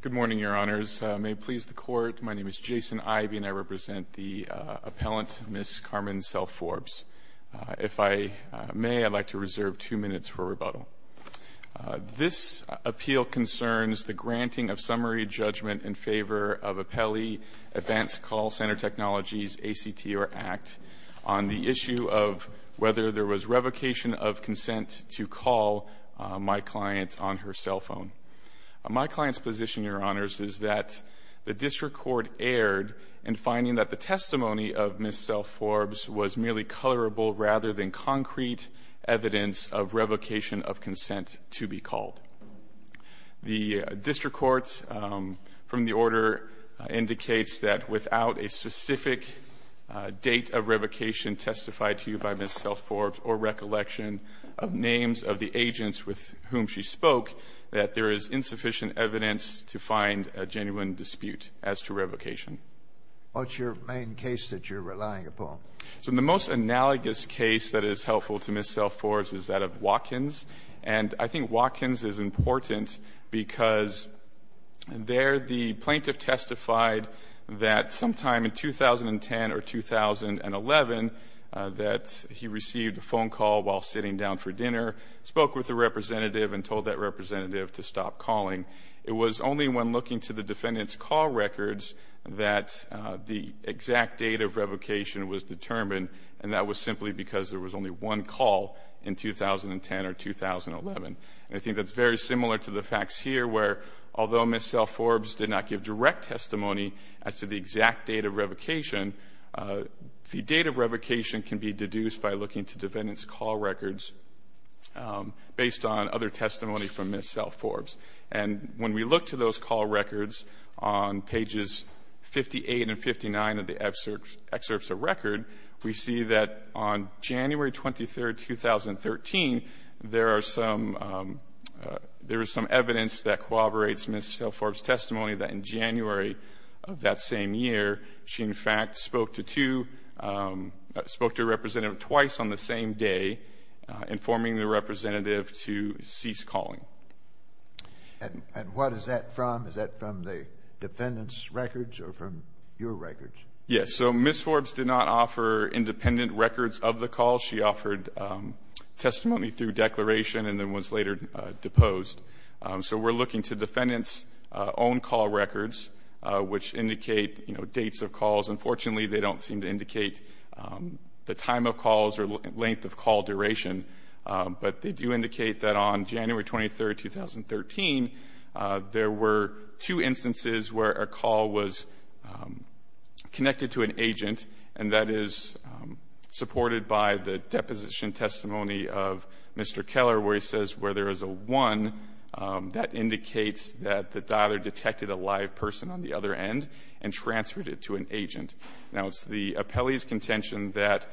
Good morning, Your Honors. May it please the Court, my name is Jason Ivey, and I represent the appellant, Ms. Carmen Self-Forbes. If I may, I'd like to reserve two minutes for rebuttal. This appeal concerns the granting of summary judgment in favor of Appellee Advanced Call Center Technologies, ACT or ACT, on the issue of whether there was revocation of consent to call my client on her cell phone. My client's position, Your Honors, is that the district court erred in finding that the testimony of Ms. Self-Forbes was merely colorable rather than concrete evidence of revocation of consent to be called. The district court from the order indicates that without a specific date of revocation testified to you by Ms. Self-Forbes or recollection of names of the agents with whom she spoke, that there is insufficient evidence to find a genuine dispute as to revocation. What's your main case that you're relying upon? The most analogous case that is helpful to Ms. Self-Forbes is that of Watkins. And I think Watkins is important because there the plaintiff testified that sometime in 2010 or 2011 that he received a phone call while sitting down for dinner, spoke with a representative and told that representative to stop calling. It was only when looking to the defendant's call records that the exact date of revocation was determined, and that was simply because there was only one call in 2010 or 2011. And I think that's very similar to the facts here where although Ms. Self-Forbes did not give direct testimony as to the exact date of revocation, the date of revocation can be deduced by looking to defendant's call records based on other testimony from Ms. Self-Forbes. And when we look to those call records on pages 58 and 59 of the excerpts of record, we see that on January 23, 2013, there is some evidence that corroborates Ms. Self-Forbes' testimony that in January of that same year, she in fact spoke to two, spoke to a representative twice on the same day, informing the representative to cease calling. And what is that from? Is that from the defendant's records or from your records? Yes. So Ms. Self-Forbes did not offer independent records of the call. She offered testimony through declaration and then was later deposed. So we're looking to defendant's own call records, which indicate, you know, dates of calls. Unfortunately, they don't seem to indicate the time of calls or length of call duration, but they do indicate that on January 23, 2013, there were two instances where a call was connected to an agent, and that is supported by the deposition testimony of Mr. Keller, where he says where there is a 1, that indicates that the dialer detected a live person on the other end and transferred it to an agent. Now, it's the appellee's contention that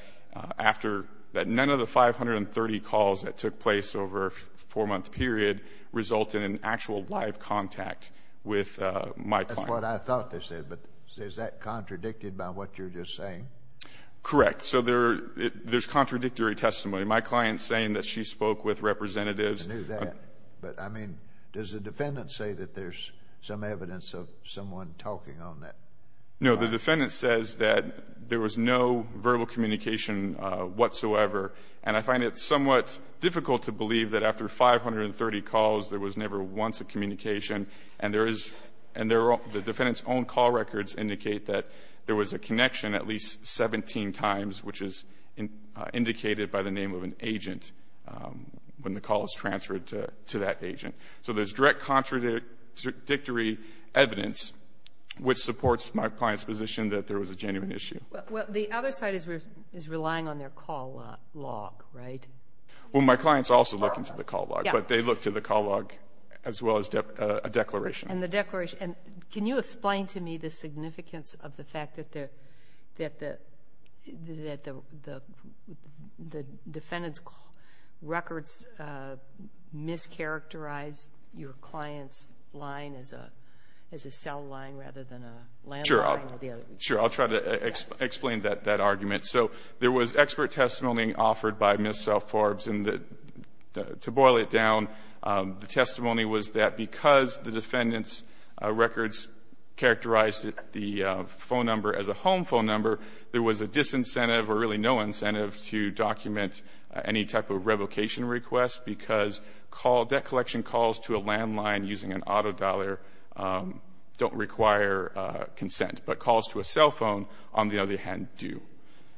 none of the 530 calls that took place over a 4-month period resulted in actual live contact with my client. That's what I thought they said, but is that contradicted by what you're just saying? Correct. So there's contradictory testimony. My client's saying that she spoke with representatives. I knew that. But, I mean, does the defendant say that there's some evidence of someone talking on that? No. The defendant says that there was no verbal communication whatsoever, and I find it somewhat difficult to believe that after 530 calls, there was never once a communication, and the defendant's own call records indicate that there was a connection at least 17 times, which is indicated by the name of an agent when the call is transferred to that agent. So there's direct contradictory evidence, which supports my client's position that there was a genuine issue. Well, the other side is relying on their call log, right? Well, my clients also look into the call log, but they look to the call log as well as a declaration. And the declaration. Can you explain to me the significance of the fact that the defendant's records mischaracterized your client's line as a cell line rather than a landline? Sure. I'll try to explain that argument. So there was expert testimony offered by Ms. Self-Forbes, and to boil it down, the testimony was that because the defendant's records characterized the phone number as a home phone number, there was a disincentive or really no incentive to document any type of revocation request, because debt collection calls to a landline using an auto dollar don't require consent, but calls to a cell phone, on the other hand, do.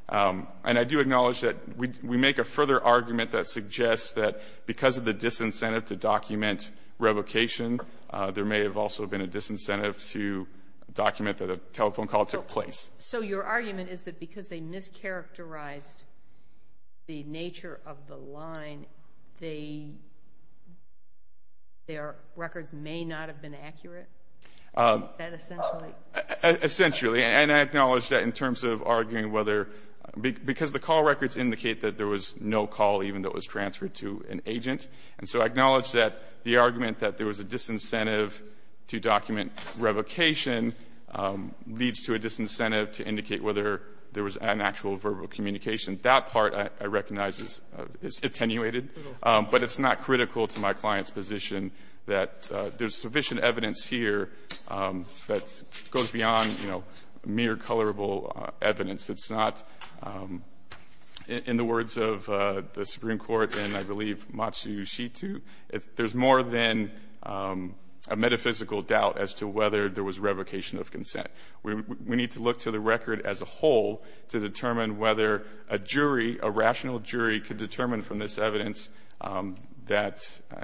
And I do acknowledge that we make a further argument that suggests that because of the disincentive to document revocation, there may have also been a disincentive to document that a telephone call took place. So your argument is that because they mischaracterized the nature of the line, their records may not have been accurate? Is that essentially? Essentially. And I acknowledge that in terms of arguing whether — because the call records indicate that there was no call even that was transferred to an agent. And so I acknowledge that the argument that there was a disincentive to document revocation leads to a disincentive to indicate whether there was an actual verbal communication. That part, I recognize, is attenuated. But it's not critical to my client's position that there's sufficient evidence here that goes beyond mere colorable evidence. It's not, in the words of the Supreme Court in, I believe, Matsushita, there's more than a metaphysical doubt as to whether there was revocation of consent. We need to look to the record as a whole to determine whether a jury, a rational jury, could determine from this evidence that,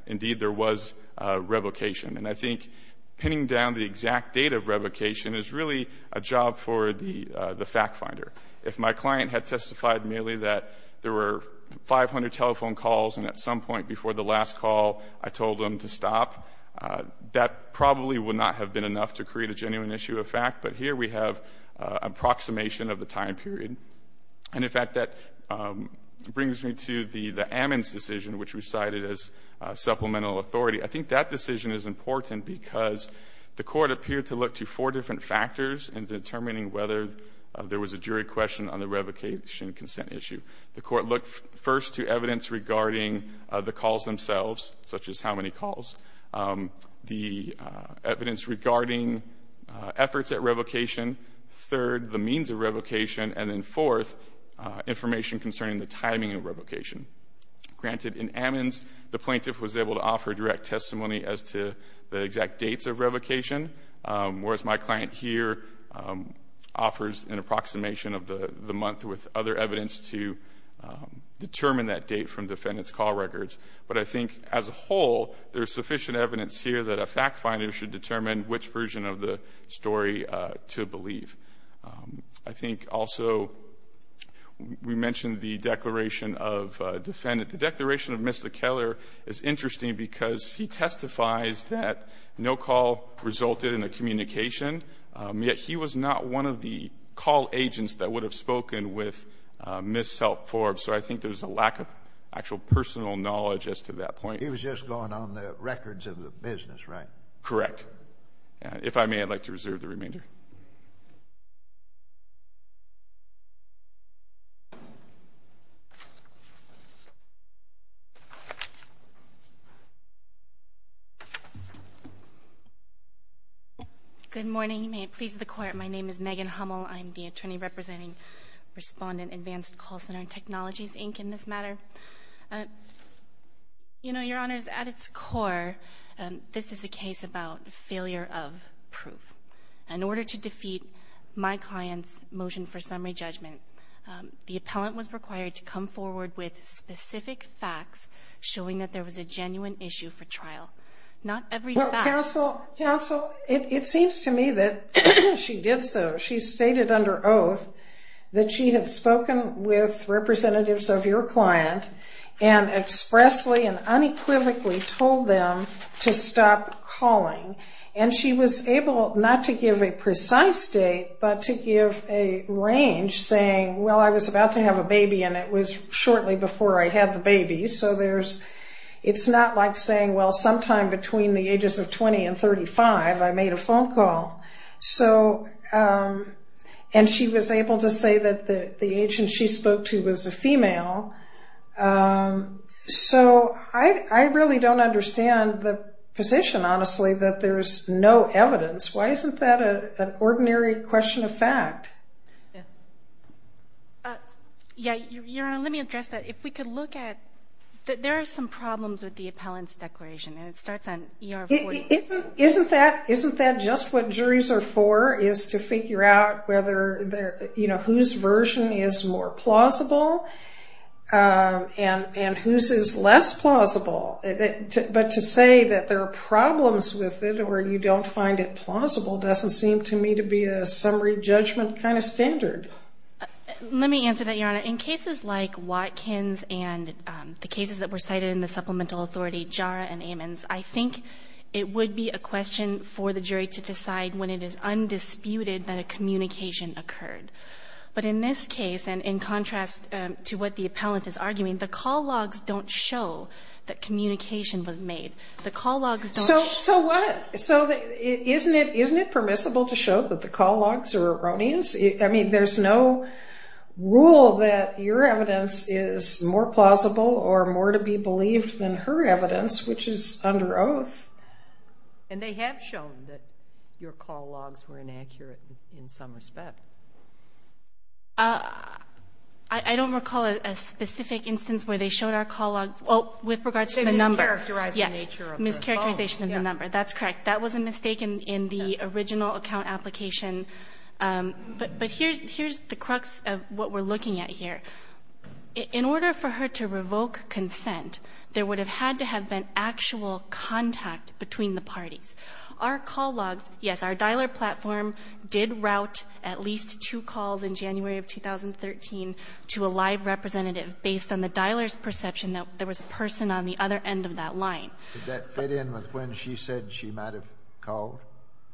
indeed, there was revocation. And I think pinning down the exact date of revocation is really a job for the fact finder. If my client had testified merely that there were 500 telephone calls and at some point before the last call I told them to stop, that probably would not have been enough to create a genuine issue of fact. But here we have an approximation of the time period. And, in fact, that brings me to the Ammons decision, which we cited as supplemental authority. I think that decision is important because the Court appeared to look to four different factors in determining whether there was a jury question on the revocation consent issue. The Court looked first to evidence regarding the calls themselves, such as how many calls, the evidence regarding efforts at revocation, third, the means of revocation, and then, fourth, information concerning the timing of revocation. Granted, in Ammons, the plaintiff was able to offer direct testimony as to the exact dates of revocation, whereas my client here offers an approximation of the month with other evidence to determine that date from defendant's call records. But I think, as a whole, there's sufficient evidence here that a fact finder should determine which version of the story to believe. I think also we mentioned the declaration of defendant. The declaration of Mr. Keller is interesting because he testifies that no call resulted in a communication, yet he was not one of the call agents that would have spoken with Ms. Self-Forbes. So I think there's a lack of actual personal knowledge as to that point. He was just going on the records of the business, right? Correct. If I may, I'd like to reserve the remainder. Good morning. May it please the Court, my name is Megan Hummel. I'm the attorney representing Respondent Advanced Call Center Technologies, Inc., in this matter. Your Honor, at its core, this is a case about failure of proof. In order to defeat my client's motion for summary judgment, the appellant was required to come forward with specific facts showing that there was a genuine issue for trial, not every fact. Counsel, it seems to me that she did so. She stated under oath that she had spoken with representatives of your client and expressly and unequivocally told them to stop calling. And she was able not to give a precise date, but to give a range saying, well, I was about to have a baby, and it was shortly before I had the baby. So it's not like saying, well, sometime between the ages of 20 and 35, I made a phone call. So, and she was able to say that the agent she spoke to was a female. So I really don't understand the position, honestly, that there is no evidence. Why isn't that an ordinary question of fact? Yeah, Your Honor, let me address that. If we could look at, there are some problems with the appellant's declaration, and it starts on ER-40. Isn't that just what juries are for, is to figure out whether their, you know, whose version is more plausible and whose is less plausible? But to say that there are problems with it or you don't find it plausible doesn't seem to me to be a summary judgment kind of standard. Let me answer that, Your Honor. In cases like Watkins and the cases that were cited in the supplemental authority, JARA and Ammons, I think it would be a question for the jury to decide when it is undisputed that a communication occurred. But in this case, and in contrast to what the appellant is arguing, the call logs don't show that communication was made. The call logs don't show. So isn't it permissible to show that the call logs are erroneous? I mean, there's no rule that your evidence is more plausible or more to be believed than her evidence, which is under oath. And they have shown that your call logs were inaccurate in some respect. I don't recall a specific instance where they showed our call logs. Well, with regards to the number. They mischaracterized the nature of the calls. Mischaracterization of the number, that's correct. That was a mistake in the original account application. But here's the crux of what we're looking at here. In order for her to revoke consent, there would have had to have been actual contact between the parties. Our call logs, yes, our dialer platform did route at least two calls in January of 2013 to a live representative, based on the dialer's perception that there was a person on the other end of that line. Did that fit in with when she said she might have called?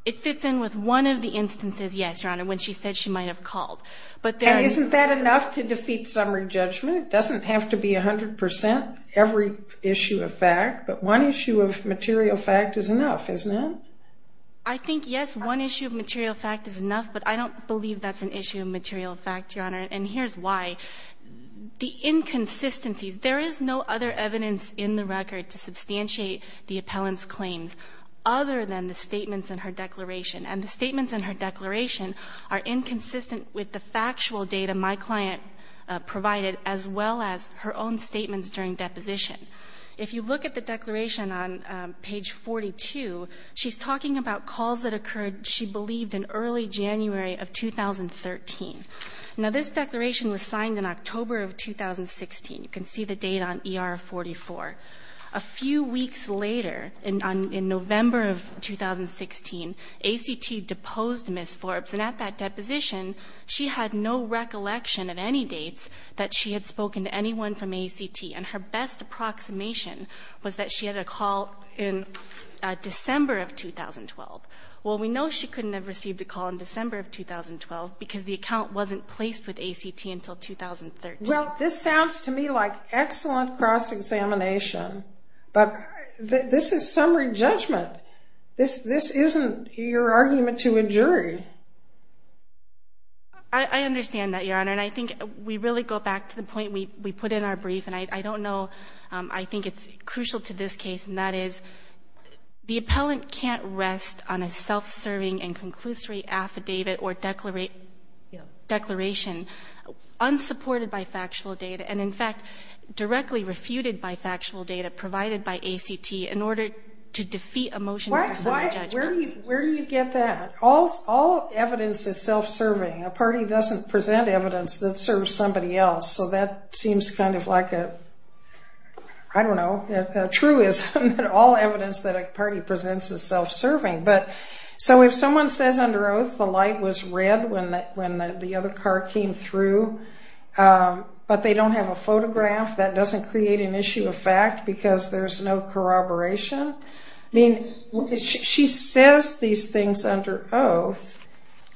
It fits in with one of the instances, yes, Your Honor, when she said she might have called. And isn't that enough to defeat summary judgment? It doesn't have to be 100 percent every issue of fact. But one issue of material fact is enough, isn't it? I think, yes, one issue of material fact is enough. But I don't believe that's an issue of material fact, Your Honor. And here's why. The inconsistencies. There is no other evidence in the record to substantiate the appellant's claims other than the statements in her declaration. And the statements in her declaration are inconsistent with the factual data my client provided, as well as her own statements during deposition. If you look at the declaration on page 42, she's talking about calls that occurred, she believed, in early January of 2013. Now, this declaration was signed in October of 2016. You can see the date on ER-44. A few weeks later, in November of 2016, ACT deposed Ms. Forbes. And at that deposition, she had no recollection of any dates that she had spoken to anyone from ACT. And her best approximation was that she had a call in December of 2012. Well, we know she couldn't have received a call in December of 2012 because the account wasn't placed with ACT until 2013. Well, this sounds to me like excellent cross-examination. But this is summary judgment. This isn't your argument to a jury. I understand that, Your Honor. And I think we really go back to the point we put in our brief, and I don't know. I think it's crucial to this case, and that is the appellant can't rest on a self-serving and conclusory affidavit or declaration unsupported by factual data, and, in fact, directly refuted by factual data provided by ACT in order to defeat a motion of summary judgment. Where do you get that? All evidence is self-serving. A party doesn't present evidence that serves somebody else. So that seems kind of like a, I don't know, a truism that all evidence that a party presents is self-serving. So if someone says under oath the light was red when the other car came through, but they don't have a photograph, that doesn't create an issue of fact because there's no corroboration? I mean, she says these things under oath,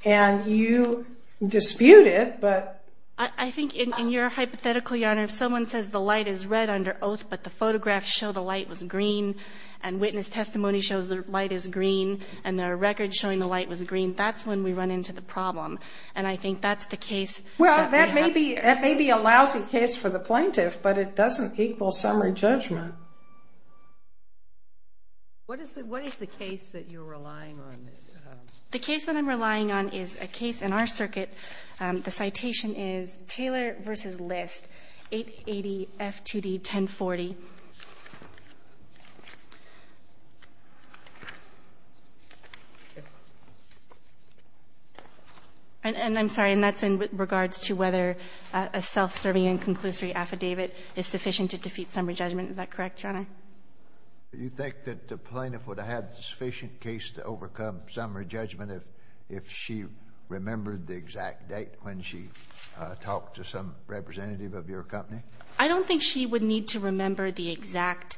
and you dispute it, but... I think in your hypothetical, Your Honor, if someone says the light is red under oath, but the photographs show the light was green, and witness testimony shows the light is green, and there are records showing the light was green, that's when we run into the problem. And I think that's the case... Well, that may be a lousy case for the plaintiff, but it doesn't equal summary judgment. What is the case that you're relying on? The case that I'm relying on is a case in our circuit. The citation is Taylor v. List, 880 F2D 1040. And I'm sorry. And that's in regards to whether a self-serving and conclusory affidavit is sufficient to defeat summary judgment. Is that correct, Your Honor? You think that the plaintiff would have had a sufficient case to overcome summary judgment if she remembered the exact date when she talked to some representative of your company? I don't think she would need to remember the exact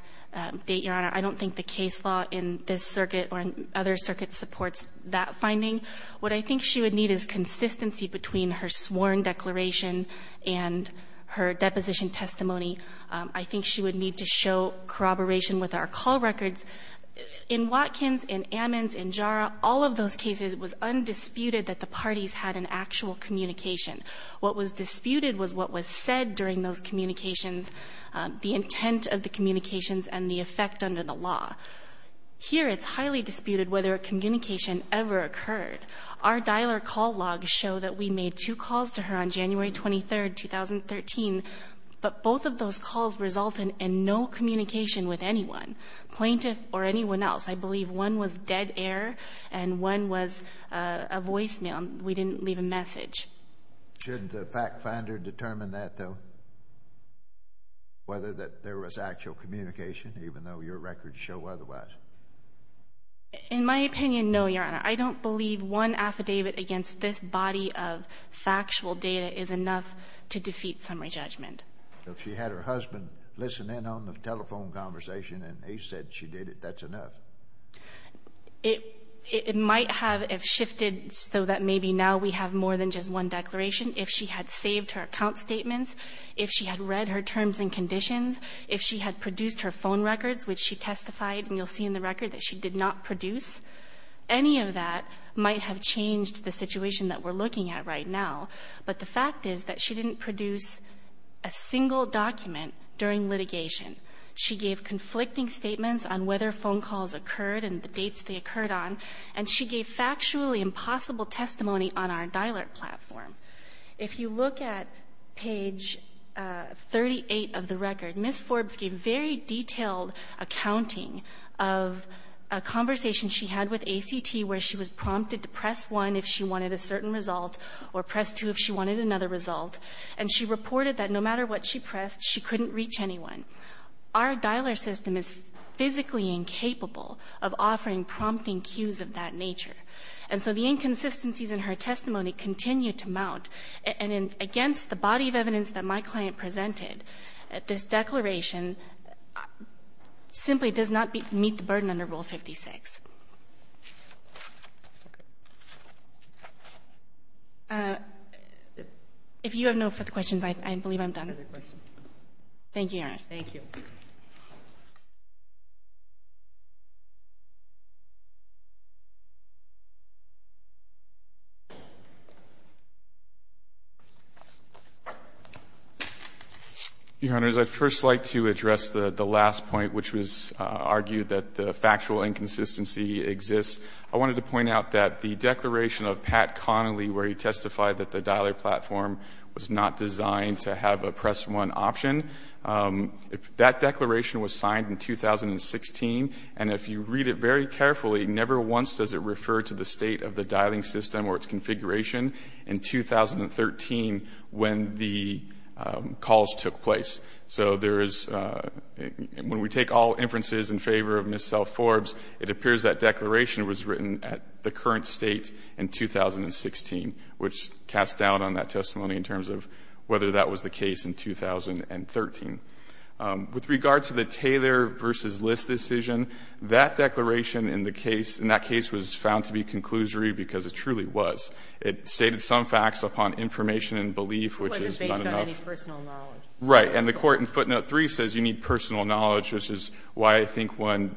date, Your Honor. I don't think the case law in this circuit or in other circuits supports that finding. What I think she would need is consistency between her sworn declaration and her deposition testimony. I think she would need to show corroboration with our call records. In Watkins, in Ammons, in Jara, all of those cases, it was undisputed that the parties had an actual communication. What was disputed was what was said during those communications, the intent of the communications and the effect under the law. Here, it's highly disputed whether a communication ever occurred. Our dialer call logs show that we made two calls to her on January 23, 2013, but both of those calls resulted in no communication with anyone. Plaintiff or anyone else, I believe one was dead air and one was a voicemail. We didn't leave a message. Shouldn't the fact finder determine that, though, whether there was actual communication even though your records show otherwise? In my opinion, no, Your Honor. I don't believe one affidavit against this body of factual data is enough to defeat summary judgment. If she had her husband listening on the telephone conversation and he said she did it, that's enough. It might have shifted so that maybe now we have more than just one declaration. If she had saved her account statements, if she had read her terms and conditions, if she had produced her phone records, which she testified, and you'll see in the record that she did not produce, any of that might have changed the situation that we're looking at right now. But the fact is that she didn't produce a single document during litigation. She gave conflicting statements on whether phone calls occurred and the dates they occurred on, and she gave factually impossible testimony on our DILRT platform. If you look at page 38 of the record, Ms. Forbes gave very detailed accounting of a conversation she had with ACT where she was prompted to press 1 if she wanted a certain result or press 2 if she wanted another result. And she reported that no matter what she pressed, she couldn't reach anyone. Our DILRT system is physically incapable of offering prompting cues of that nature. And so the inconsistencies in her testimony continue to mount. And against the body of evidence that my client presented, this declaration simply does not meet the burden under Rule 56. If you have no further questions, I believe I'm done. Thank you, Your Honor. Thank you. Your Honor, as I'd first like to address the last point, which was argued that the inconsistency exists, I wanted to point out that the declaration of Pat Connolly, where he testified that the DILRT platform was not designed to have a press 1 option, that declaration was signed in 2016. And if you read it very carefully, never once does it refer to the state of the dialing system or its configuration in 2013 when the calls took place. So there is, when we take all inferences in favor of Ms. Self-Forbes, it appears that declaration was written at the current state in 2016, which casts doubt on that testimony in terms of whether that was the case in 2013. With regard to the Taylor v. List decision, that declaration in the case, in that case was found to be conclusory because it truly was. It stated some facts upon information and belief, which is not enough. It wasn't based on any personal knowledge. Right. And the court in footnote 3 says you need personal knowledge, which is why I think when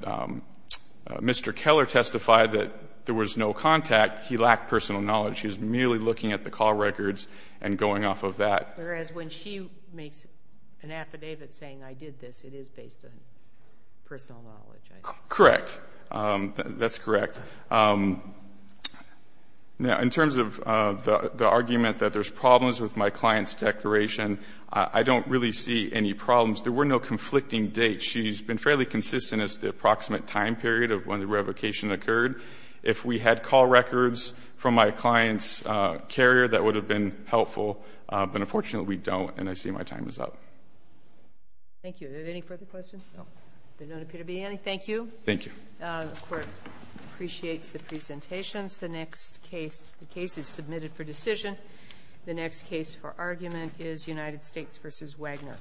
Mr. Keller testified that there was no contact, he lacked personal knowledge. He was merely looking at the call records and going off of that. Whereas when she makes an affidavit saying I did this, it is based on personal knowledge, I think. Correct. That's correct. Now, in terms of the argument that there's problems with my client's declaration, I don't really see any problems. There were no conflicting dates. She's been fairly consistent as to the approximate time period of when the revocation occurred. If we had call records from my client's carrier, that would have been helpful. But unfortunately, we don't, and I see my time is up. Thank you. Are there any further questions? There don't appear to be any. Thank you. Thank you. The Court appreciates the presentations. The next case, the case is submitted for decision. The next case for argument is United States v. Wagner.